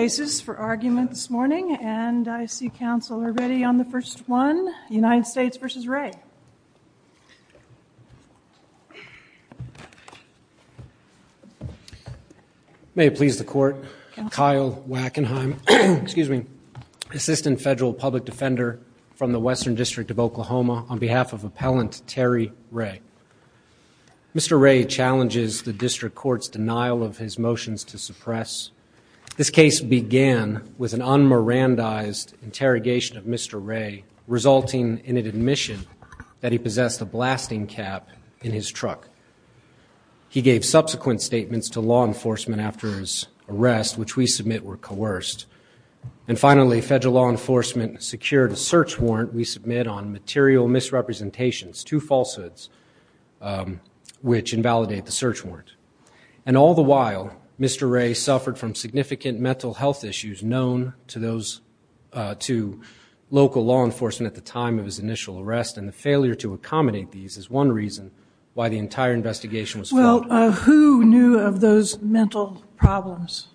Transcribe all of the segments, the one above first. May it please the Court, Kyle Wackenheim, Assistant Federal Public Defender from the Western District of Oklahoma, on behalf of Appellant Terry Ray. Mr. Ray challenges the District Court's denial of his motions to suppress this case This began with an un-Mirandized interrogation of Mr. Ray, resulting in an admission that he possessed a blasting cap in his truck. He gave subsequent statements to law enforcement after his arrest, which we submit were coerced. And finally, federal law enforcement secured a search warrant we submit on material misrepresentations, two falsehoods, which invalidate the search warrant. And all the while, Mr. Ray suffered from significant mental health issues known to those, to local law enforcement at the time of his initial arrest, and the failure to accommodate these is one reason why the entire investigation was failed. Well, who knew of those mental problems?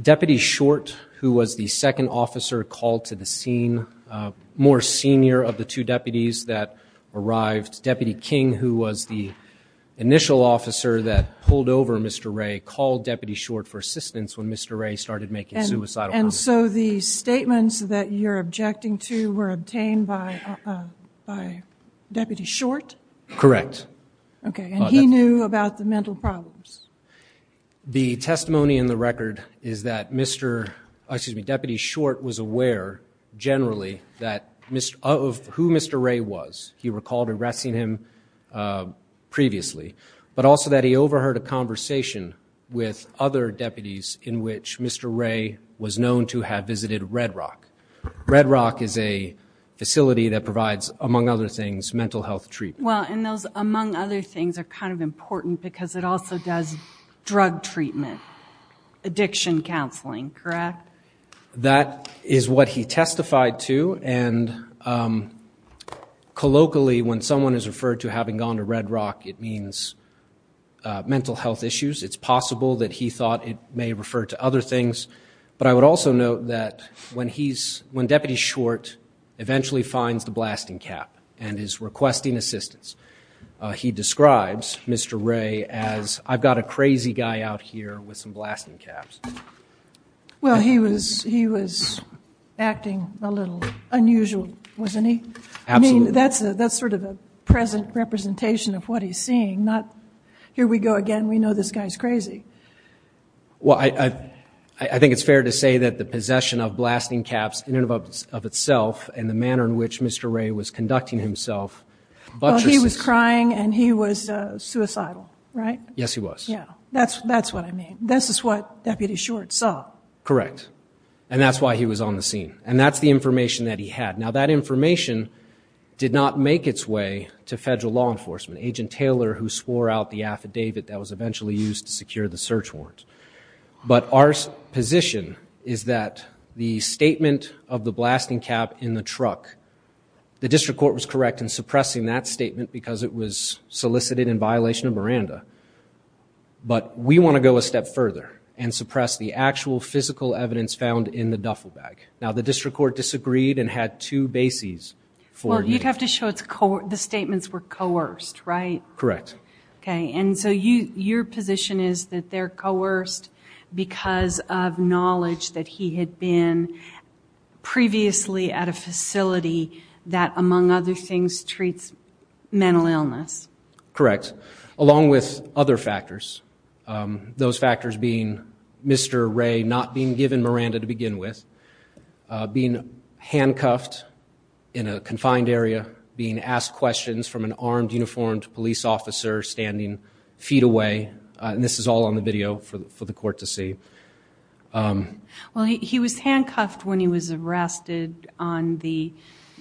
Deputy Short, who was the second officer called to the scene, more senior of the two deputies that arrived, Deputy King, who was the initial officer that pulled over Mr. Ray, called Deputy Short for assistance when Mr. Ray started making suicidal comments. And so the statements that you're objecting to were obtained by Deputy Short? Correct. Okay, and he knew about the mental problems? The testimony in the record is that Mr., excuse me, Deputy Short was aware, generally, that who Mr. Ray was. He recalled arresting him previously, but also that he overheard a conversation with other deputies in which Mr. Ray was known to have visited Red Rock. Red Rock is a facility that provides, among other things, mental health treatment. Well, and those among other things are kind of important because it also does drug treatment, addiction counseling, correct? That is what he testified to, and colloquially, when someone is referred to having gone to Red Rock, it means mental health issues. It's possible that he thought it may refer to other things, but I would also note that when he's, when Deputy Short eventually finds the blasting cap and is requesting assistance, he describes Mr. Ray as, I've got a crazy guy out here with some blasting caps. Well, he was, he was acting a little unusual, wasn't he? Absolutely. I mean, that's sort of a present representation of what he's seeing, not, here we go again, we know this guy's crazy. Well, I think it's fair to say that the possession of blasting caps in and of itself, and the manner in which Mr. Ray was conducting himself, buttresses. Well, he was crying and he was suicidal, right? Yes, he was. Yeah. That's what I mean. This is what Deputy Short saw. Correct. And that's why he was on the scene, and that's the information that he had. Now, that information did not make its way to federal law enforcement, Agent Taylor, who swore out the affidavit that was eventually used to secure the search warrant. But our position is that the statement of the blasting cap in the truck, the district court was correct in suppressing that statement because it was solicited in violation of Miranda. But we want to go a step further and suppress the actual physical evidence found in the duffel bag. Now, the district court disagreed and had two bases for you. Well, you'd have to show the statements were coerced, right? Correct. Okay. And so your position is that they're coerced because of knowledge that he had been previously at a facility that, among other things, treats mental illness. Correct. Along with other factors, those factors being Mr. Ray not being given Miranda to begin with, being handcuffed in a confined area, being asked questions from an armed, uniformed police officer standing feet away. And this is all on the video for the court to see. Well, he was handcuffed when he was arrested on the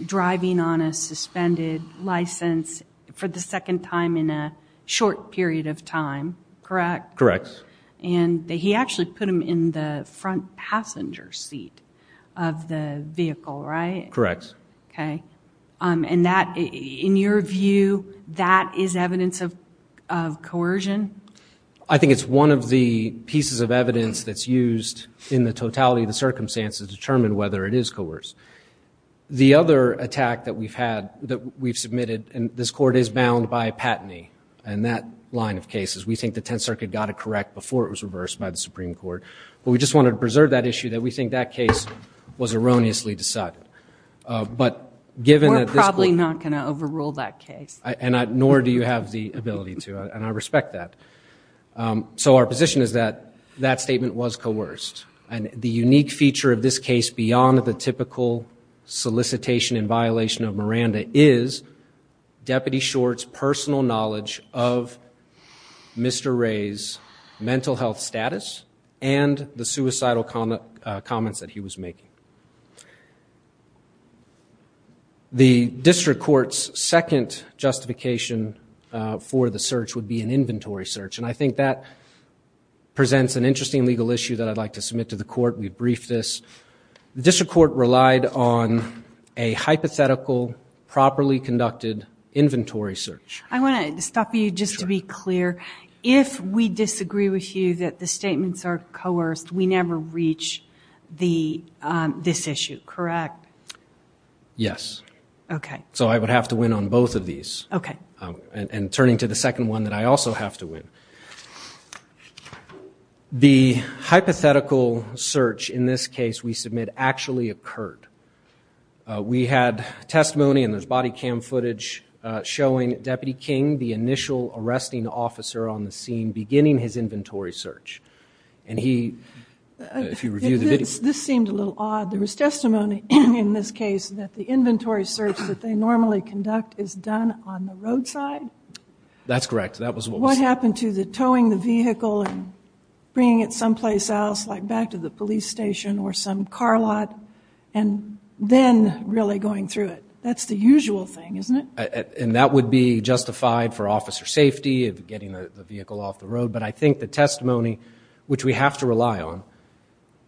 driving on a suspended license for the second time in a short period of time, correct? Correct. And he actually put him in the front passenger seat of the vehicle, right? Correct. Okay. And that, in your view, that is evidence of coercion? I think it's one of the pieces of evidence that's used in the totality of the circumstances to determine whether it is coerced. The other attack that we've had, that we've submitted, and this court is bound by a patentee in that line of cases. We think the Tenth Circuit got it correct before it was reversed by the Supreme Court. But we just wanted to preserve that issue that we think that case was erroneously decided. We're probably not going to overrule that case. Nor do you have the ability to. And I respect that. So our position is that that statement was coerced. And the unique feature of this case beyond the typical solicitation in violation of Miranda is Deputy Short's personal knowledge of Mr. Ray's mental health status and the suicidal comments that he was making. The District Court's second justification for the search would be an inventory search. And I think that presents an interesting legal issue that I'd like to submit to the court. We've briefed this. The District Court relied on a hypothetical, properly conducted inventory search. I want to stop you just to be clear. If we disagree with you that the statements are coerced, we never reach this issue, correct? Yes. Okay. So I would have to win on both of these. Okay. And turning to the second one that I also have to win. The hypothetical search in this case we submit actually occurred. We had testimony and there's body cam footage showing Deputy King, the initial arresting officer on the scene, beginning his inventory search. And he, if you review the video. This seemed a little odd. There was testimony in this case that the inventory search that they normally conduct is done on the roadside? That's correct. That was what was said. What happened to the towing the vehicle and bringing it someplace else like back to the police station or some car lot and then really going through it? That's the usual thing, isn't it? And that would be justified for officer safety of getting the vehicle off the road. But I think the testimony, which we have to rely on,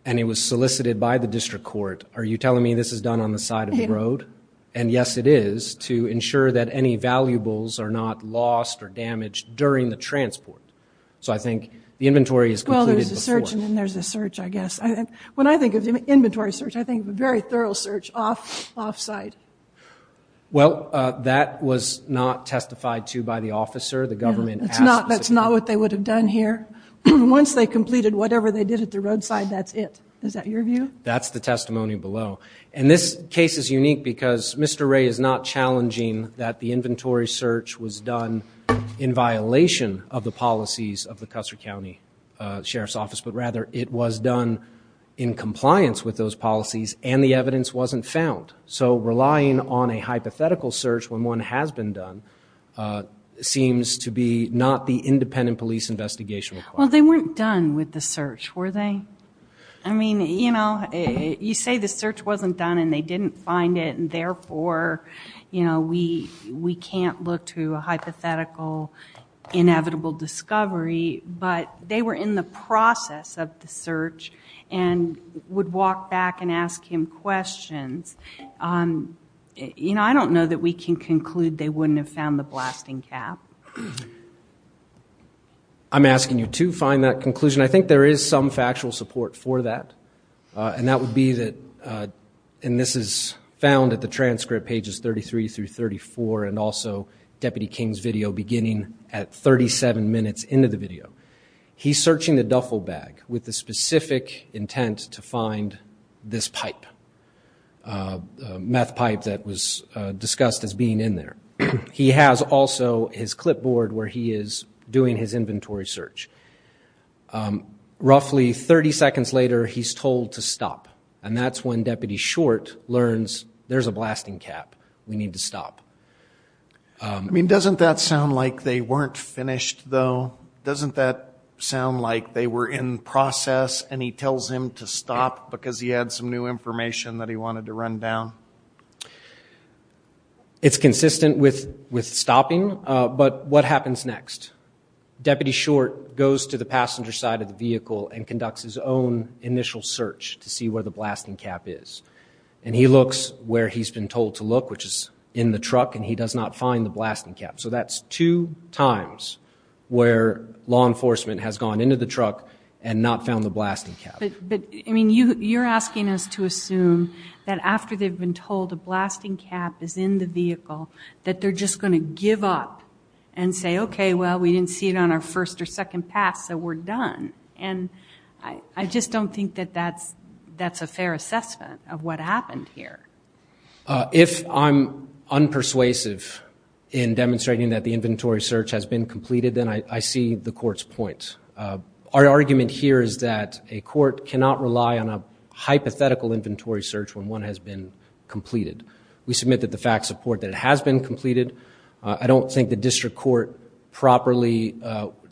and it was solicited by the District Court, are you telling me this is done on the side of the road? And yes, it is, to ensure that any valuables are not lost or damaged during the transport. So I think the inventory is completed before. Well, there's a search and then there's a search, I guess. When I think of inventory search, I think of a very thorough search off-site. Well, that was not testified to by the officer. The government asked us to do it. That's not what they would have done here. Once they completed whatever they did at the roadside, that's it. Is that your view? That's the testimony below. And this case is unique because Mr. Ray is not challenging that the inventory search was done in violation of the policies of the Custer County Sheriff's Office, but rather it was done in compliance with those policies and the evidence wasn't found. So relying on a hypothetical search when one has been done seems to be not the independent police investigation required. Well, they weren't done with the search, were they? I mean, you know, you say the search wasn't done and they didn't find it and therefore we can't look to a hypothetical inevitable discovery, but they were in the process of the search and would walk back and ask him questions. You know, I don't know that we can conclude they wouldn't have found the blasting cap. I'm asking you to find that conclusion. I think there is some factual support for that and that would be that, and this is found at the transcript pages 33 through 34 and also Deputy King's video beginning at 37 minutes into the video, he's searching the duffel bag with the specific intent to find this pipe, a meth pipe that was discussed as being in there. He has also his clipboard where he is doing his inventory search. Roughly 30 seconds later, he's told to stop and that's when Deputy Short learns there's a blasting cap. We need to stop. I mean, doesn't that sound like they weren't finished though? Doesn't that sound like they were in process and he tells him to stop because he had some new information that he wanted to run down? It's consistent with stopping, but what happens next? Deputy Short goes to the passenger side of the vehicle and conducts his own initial search to see where the blasting cap is. And he looks where he's been told to look, which is in the truck, and he does not find the blasting cap. So that's two times where law enforcement has gone into the truck and not found the blasting cap. But, I mean, you're asking us to assume that after they've been told a blasting cap is in the vehicle that they're just going to give up and say, OK, well, we didn't see it on our first or second pass, so we're done. And I just don't think that that's a fair assessment of what happened here. If I'm unpersuasive in demonstrating that the inventory search has been completed, then I see the court's point. Our argument here is that a court cannot rely on a hypothetical inventory search when one has been completed. We submit that the facts support that it has been completed. I don't think the district court properly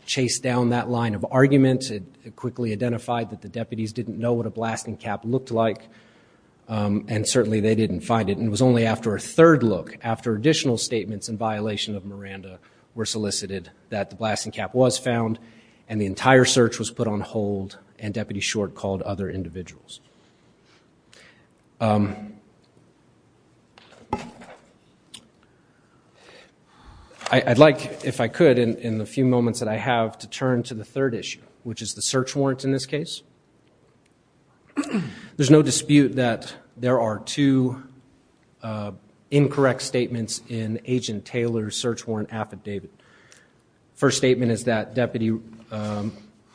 chased down that line of argument. It quickly identified that the deputies didn't know what a blasting cap looked like, and certainly they didn't find it. And it was only after a third look, after additional statements in violation of Miranda were solicited, that the blasting cap was found and the entire search was put on hold and Deputy Short called other individuals. I'd like, if I could, in the few moments that I have, to turn to the third issue, which is the search warrant in this case. There's no dispute that there are two incorrect statements in Agent Taylor's search warrant affidavit. First statement is that Deputy,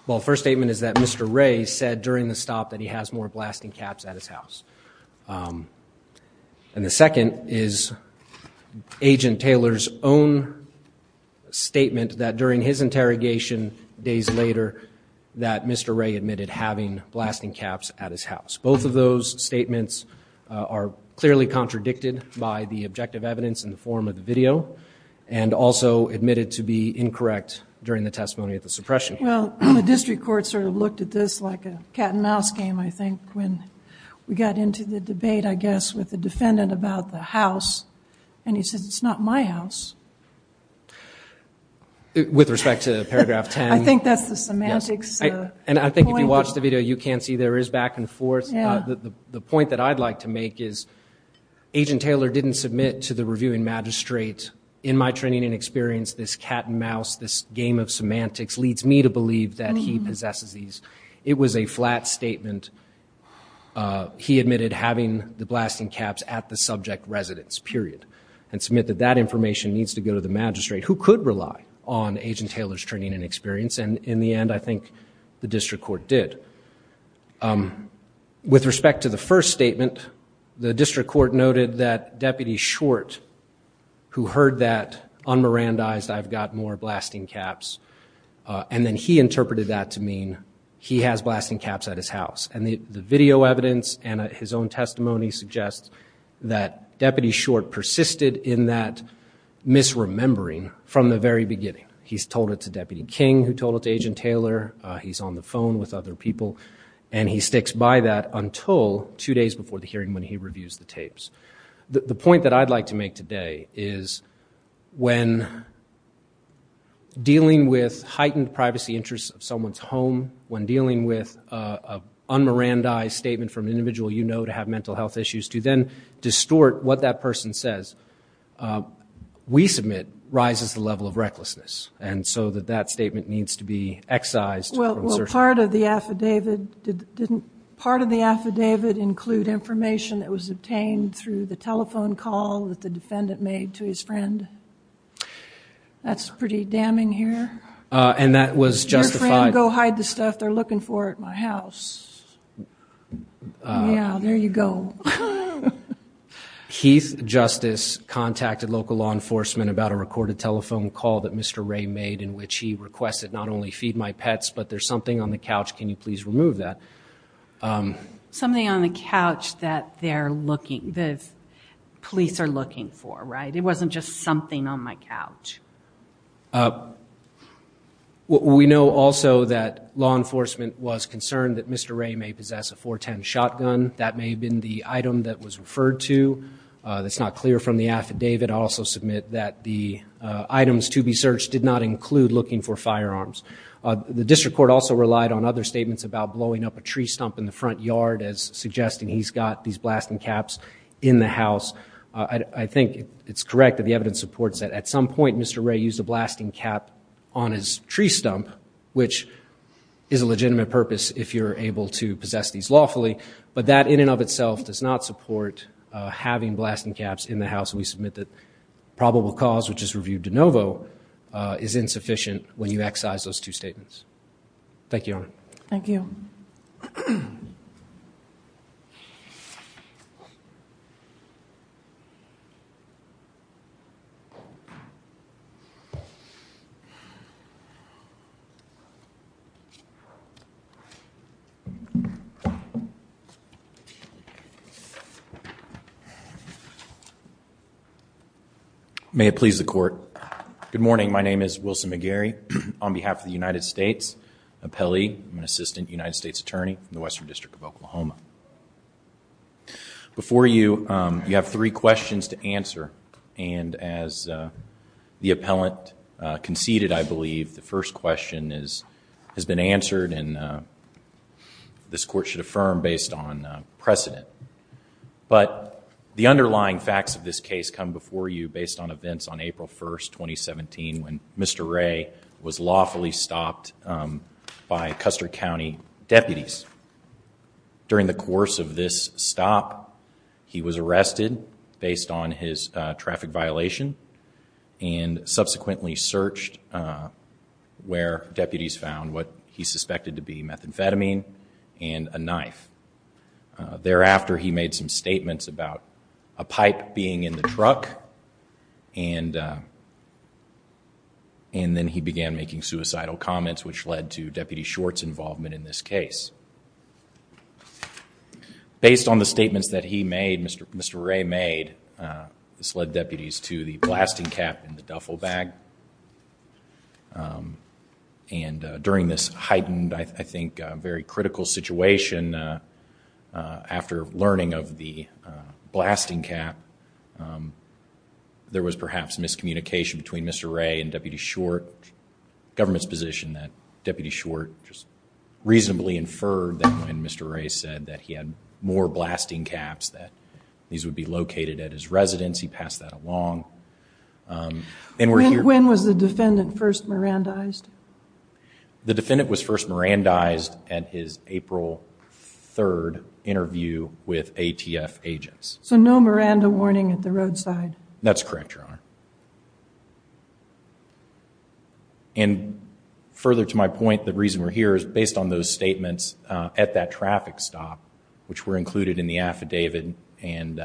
well, first statement is that Mr. Ray said during the stop that he has more evidence. Blasting caps at his house. And the second is Agent Taylor's own statement that during his interrogation days later that Mr. Ray admitted having blasting caps at his house. Both of those statements are clearly contradicted by the objective evidence in the form of the video and also admitted to be incorrect during the testimony of the suppression. Well, the district court sort of looked at this like a cat and mouse game, I think, when we got into the debate, I guess, with the defendant about the house. And he says, it's not my house. With respect to paragraph 10. I think that's the semantics. And I think if you watch the video, you can see there is back and forth. The point that I'd like to make is Agent Taylor didn't submit to the reviewing magistrate in my training and experience, this cat and mouse, this game of semantics leads me to believe that he possesses these. It was a flat statement. He admitted having the blasting caps at the subject residence, period. And submitted that information needs to go to the magistrate who could rely on Agent Taylor's training and experience. And in the end, I think the district court did. With respect to the first statement, the district court noted that Deputy Short, who heard that un-Mirandized, I've got more blasting caps, and then he interpreted that to mean he has blasting caps at his house. And the video evidence and his own testimony suggest that Deputy Short persisted in that misremembering from the very beginning. He's told it to Deputy King, who told it to Agent Taylor. He's on the phone with other people. And he sticks by that until two days before the hearing when he reviews the tapes. The point that I'd like to make today is when dealing with heightened privacy interests of someone's home, when dealing with an un-Mirandized statement from an individual you know to have mental health issues, to then distort what that person says, we submit rises the level of recklessness. And so that that statement needs to be excised. Well, part of the affidavit, didn't part of the affidavit include information that was obtained through the telephone call that the defendant made to his friend? That's pretty damning here. And that was justified. Your friend, go hide the stuff they're looking for at my house. Yeah, there you go. Heath Justice contacted local law enforcement about a recorded telephone call that Mr. Ray made in which he requested not only feed my pets, but there's something on the couch, can you please remove that? Something on the couch that they're looking, the police are looking for, right? It wasn't just something on my couch. We know also that law enforcement was concerned that Mr. Ray may possess a 410 shotgun. That may have been the item that was referred to. That's not clear from the affidavit. I'll also submit that the items to be searched did not include looking for firearms. The district court also relied on other statements about blowing up a tree stump in the front yard as suggesting he's got these blasting caps in the house. I think it's correct that the evidence supports that. At some point, Mr. Ray used a blasting cap on his tree stump, which is a legitimate purpose if you're able to possess these lawfully. But that in and of itself does not support having blasting caps in the house. We submit that probable cause, which is reviewed de novo, is insufficient when you excise those two statements. Thank you, Your Honor. Thank you. Thank you. May it please the court. Good morning. My name is Wilson McGarry. On behalf of the United States Appellee, I'm an assistant United States attorney in the Western District of Oklahoma. Before you, you have three questions to answer. And as the appellant conceded, I believe, the first question has been answered and this court should affirm based on precedent. But the underlying facts of this case come before you based on events on April 1st, 2017, when Mr. Ray was lawfully stopped by Custer County deputies. During the course of this stop, he was arrested based on his traffic violation and subsequently searched where deputies found what he suspected to be methamphetamine and a knife. Thereafter, he made some statements about a pipe being in the truck and then he began making suicidal comments which led to Deputy Schwartz's involvement in this case. Based on the statements that he made, Mr. Ray made, this led deputies to the blasting cap in the duffel bag. And during this heightened, I think, very critical situation, after learning of the blasting cap, there was perhaps miscommunication between Mr. Ray and Deputy Schwartz, government's position that Deputy Schwartz reasonably inferred that when Mr. Ray said that he had more blasting caps that these would be located at his residence, he passed that along. When was the defendant first Mirandized? The defendant was first Mirandized at his April 3rd interview with ATF agents. So no Miranda warning at the roadside? That's correct, Your Honor. And further to my point, the reason we're here is based on those statements at that traffic stop which were included in the affidavit and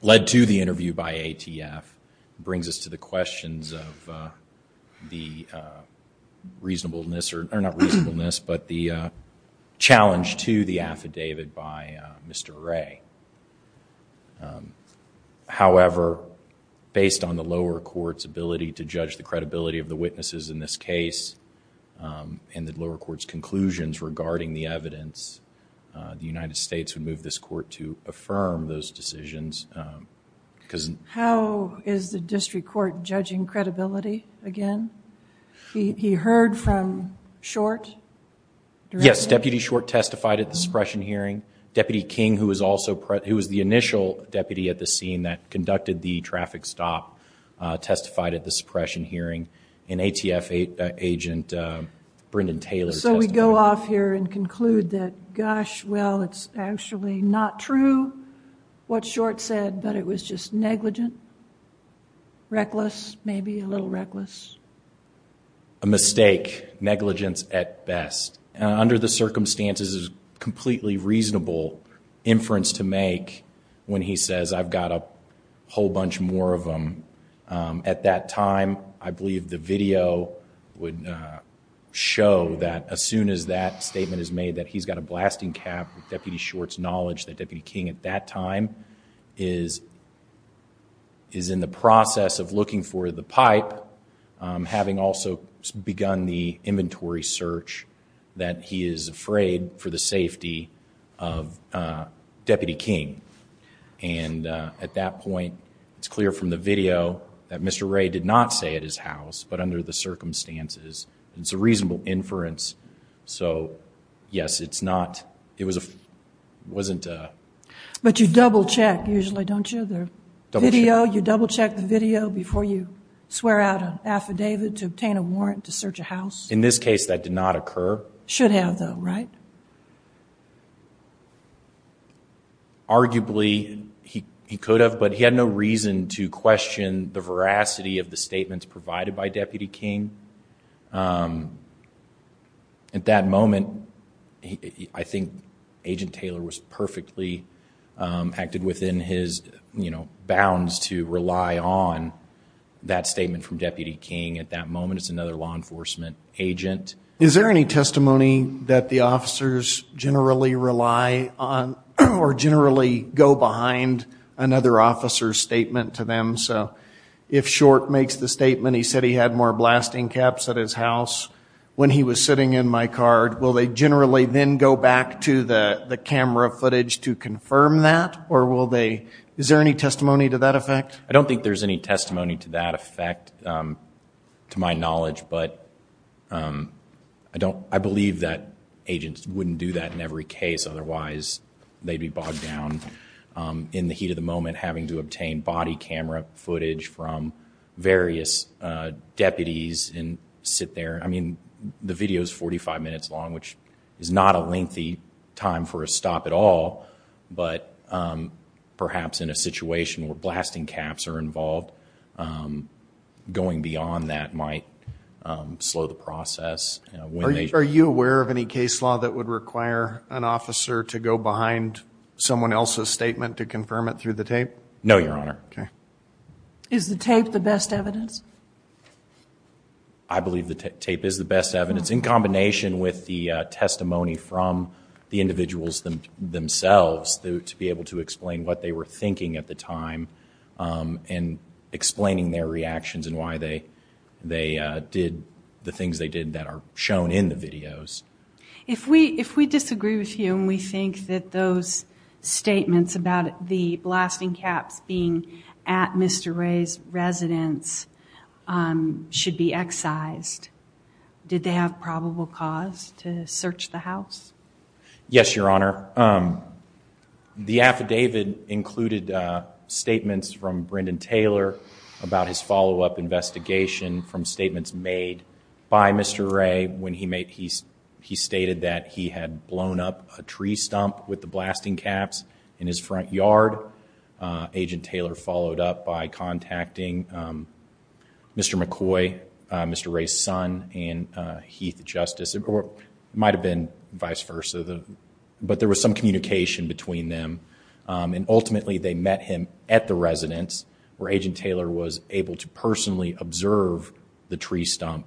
led to the interview by ATF brings us to the questions of the reasonableness, or not reasonableness, but the challenge to the affidavit by Mr. Ray. However, based on the lower court's ability to judge the credibility of the witnesses in this case and the lower court's conclusions regarding the evidence, the United States would move this court to affirm those decisions. How is the district court judging credibility again? He heard from Schwartz? Yes, Deputy Schwartz testified at the suppression hearing. Deputy King, who was the initial deputy at the scene that conducted the traffic stop, testified at the suppression hearing. And ATF agent Brendan Taylor testified. So we go off here and conclude that, gosh, well, it's actually not true what Schwartz said, but it was just negligent, reckless, maybe a little reckless. A mistake. Negligence at best. Under the circumstances, it's a completely reasonable inference to make when he says, I've got a whole bunch more of them. At that time, I believe the video would show that as soon as that statement is made, that he's got a blasting cap with Deputy Schwartz's knowledge that Deputy King at that time is in the process of looking for the pipe, having also begun the inventory search, that he is afraid for the safety of Deputy King. And at that point, it's clear from the video that Mr. Ray did not say at his house, but under the circumstances. It's a reasonable inference. So, yes, it's not, it wasn't a... But you double check, usually, don't you? Double check. You double check the video before you swear out an affidavit to obtain a warrant to search a house? In this case, that did not occur. Should have, though, right? Arguably, he could have, but he had no reason to question the veracity of the statements provided by Deputy King. At that moment, I think Agent Taylor was perfectly, acted within his, you know, bounds to rely on that statement from Deputy King. At that moment, it's another law enforcement agent. Is there any testimony that the officers generally rely on or generally go behind another officer's statement to them? So, if Schwartz makes the statement, he said he had more blasting caps at his house when he was sitting in my car, will they generally then go back to the camera footage to confirm that, or will they... Is there any testimony to that effect? I don't think there's any testimony to that effect, to my knowledge, but I don't, I believe that agents wouldn't do that in every case, otherwise they'd be bogged down in the heat of the moment having to obtain body camera footage from various deputies and sit there. I mean, the video's 45 minutes long, which is not a lengthy time for a stop at all, but perhaps in a situation where blasting caps are involved, going beyond that might slow the process. Are you aware of any case law that would require an officer to go behind someone else's statement to confirm it through the tape? No, Your Honor. Is the tape the best evidence? I believe the tape is the best evidence. In combination with the testimony from the individuals themselves to be able to explain what they were thinking at the time and explaining their reactions and why they did the things they did that are shown in the videos. If we disagree with you and we think that those statements about the blasting caps being at Mr. Ray's residence should be excised, did they have probable cause to search the house? Yes, Your Honor. The affidavit included statements from Brendan Taylor about his follow-up investigation from statements made by Mr. Ray when he stated that he had blown up a tree stump with the blasting caps in his front yard. Agent Taylor followed up by contacting Mr. McCoy, Mr. Ray's son, and Heath Justice. It might have been vice versa, but there was some communication between them. Ultimately, they met him at the residence where Agent Taylor was able to personally observe the tree stump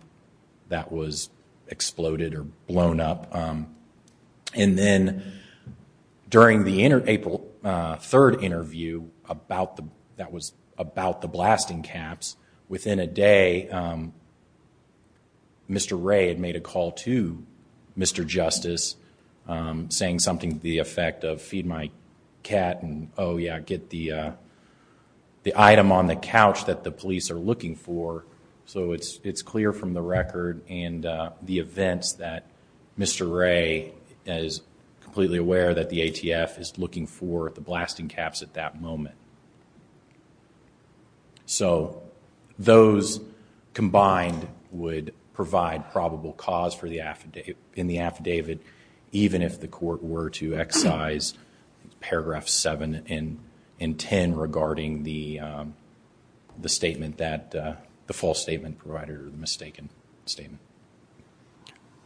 that was exploded or blown up. Then, during the April 3rd interview that was about the blasting caps, within a day, Mr. Ray had made a call to Mr. Justice saying something to the effect of feed my cat and get the item on the couch that the police are looking for. So, it's clear from the record and the events that Mr. Ray is completely aware that the ATF is looking for the blasting caps at that moment. So, those combined would provide probable cause in the affidavit even if the court were to excise paragraphs 7 and 10 regarding the false statement provided or the mistaken statement.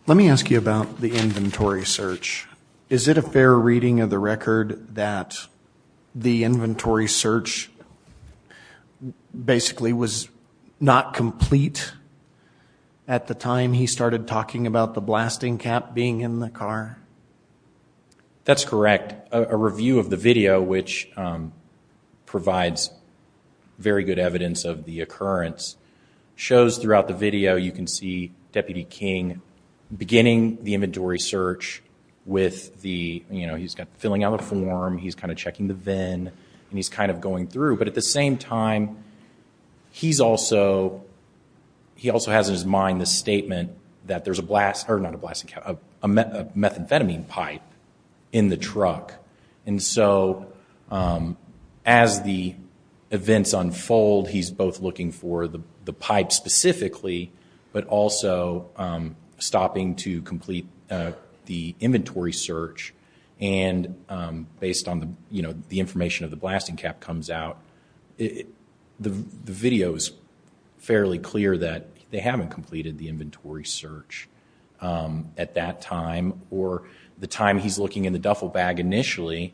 Let me ask you about the inventory search. Is it a fair reading of the record that the inventory search basically was not complete at the time he started talking about the blasting cap being in the car? That's correct. A review of the video, which provides very good evidence of the occurrence, shows throughout the video you can see he's filling out a form, he's checking the VIN, but at the same time he also has in his mind the statement that there's a methamphetamine pipe in the truck. So, as the events unfold, he's both looking for the pipe specifically but also stopping to complete the inventory search and based on the information of the blasting cap comes out, the video is fairly clear that they haven't completed the inventory search at that time or the time he's looking in the duffel bag initially,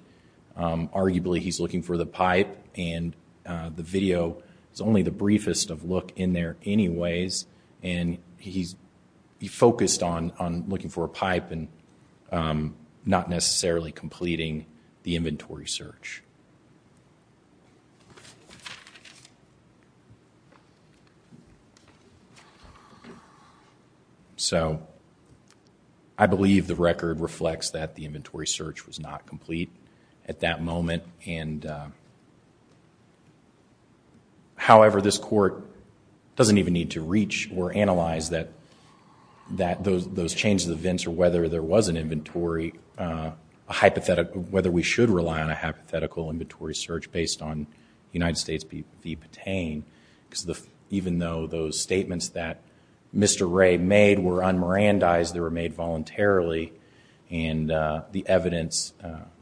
arguably he's looking for the pipe and the video is only the briefest of look in there anyways and he's focused on looking for a pipe and not necessarily completing the inventory search. So, I believe the record reflects that the inventory search was not complete at that moment and however this court doesn't even need to reach or analyze that those changes of events or whether there was an inventory, whether we should rely on a hypothetical inventory search based on United States v. Patain because even though those statements that Mr. Ray made were un-Mirandized, they were made voluntarily and the evidence,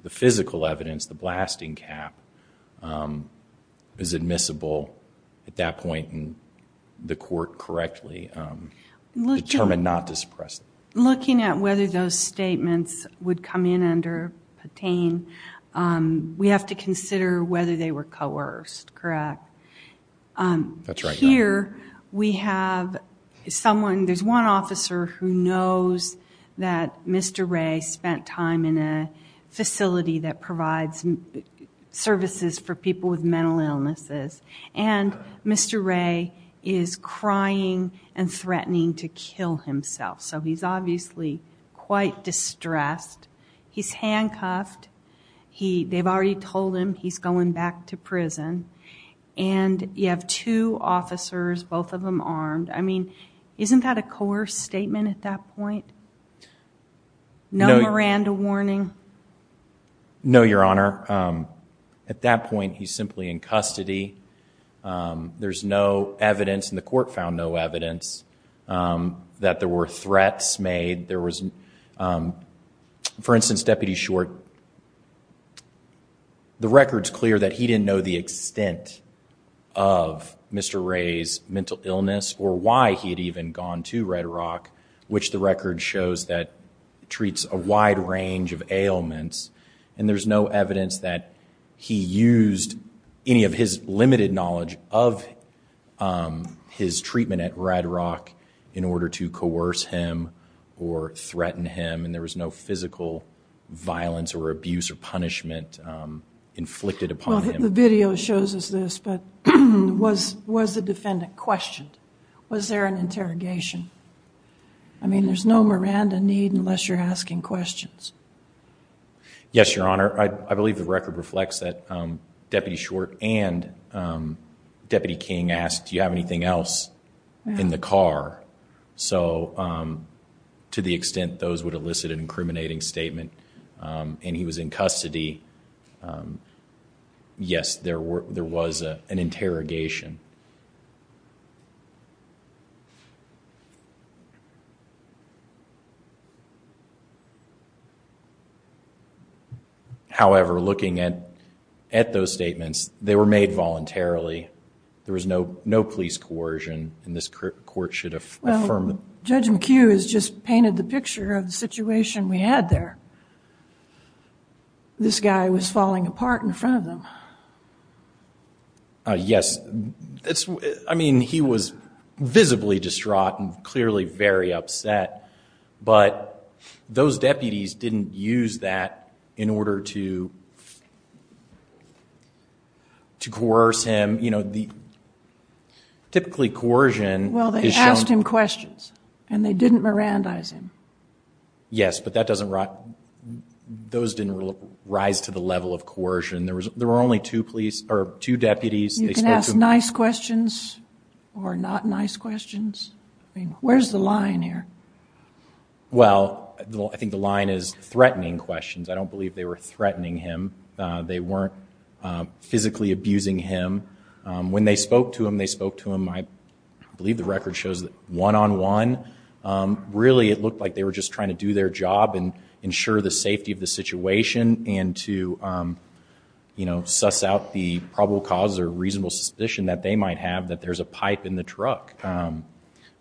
the physical evidence, the blasting cap is admissible at that point and the court correctly determined not to suppress it. Looking at whether those statements would come in under Patain we have to consider whether they were coerced, correct? Here we have someone, there's one officer who knows that Mr. Ray spent time in a facility that provides services for people with mental illnesses and Mr. Ray is crying and threatening to kill himself so he's obviously quite distressed, he's handcuffed, they've already told him he's going back to prison and you have two officers, both of them armed, I mean isn't that a coerced statement at that point? No Miranda warning? No, Your Honor. At that point he's simply in custody there's no evidence and the court found no evidence that there were threats made there was, for instance, Deputy Short the record's clear that he didn't know the extent of Mr. Ray's mental illness or why he had gone to Red Rock which the record shows that treats a wide range of ailments and there's no evidence that he used any of his limited knowledge of his treatment at Red Rock in order to coerce him or threaten him and there was no physical violence or abuse or punishment inflicted upon him. The video shows us this but was the defendant questioned? Was there an interrogation? I mean there's no Miranda need unless you're asking questions. Yes, Your Honor. I believe the record reflects that Deputy Short and Deputy King asked, do you have anything else in the car? So to the extent those would elicit an incriminating statement and he was in custody yes, there was an interrogation however, looking at those statements they were made voluntarily there was no police coercion and this court should affirm Judge McHugh has just painted the picture of the situation we had there this guy was falling apart in front of them yes, I mean he was visibly distraught and clearly very upset but those deputies didn't use that in order to to coerce him you know, typically coercion well they asked him questions and they didn't Mirandize him yes, but that doesn't those didn't rise to the level of coercion there were only two deputies you can ask nice questions or not nice questions where's the line here? well, I think the line is threatening questions I don't believe they were threatening him they weren't physically abusing him when they spoke to him, they spoke to him I believe the record shows that one-on-one really it looked like they were just trying to do their job and ensure the safety of the situation and to suss out the probable cause or reasonable suspicion that they might have that there's a pipe in the truck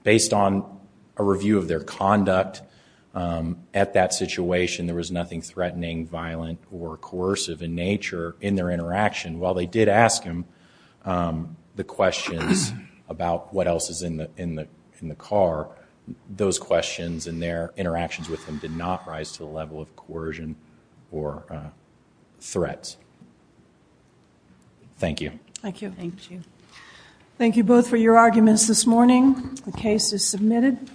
based on a review of their conduct at that situation there was nothing threatening violent or coercive in nature in their interaction while they did ask him the questions about what else is in the car those questions and their interactions with them did not rise to the level of coercion or threats thank you thank you both for your arguments this morning the case is submitted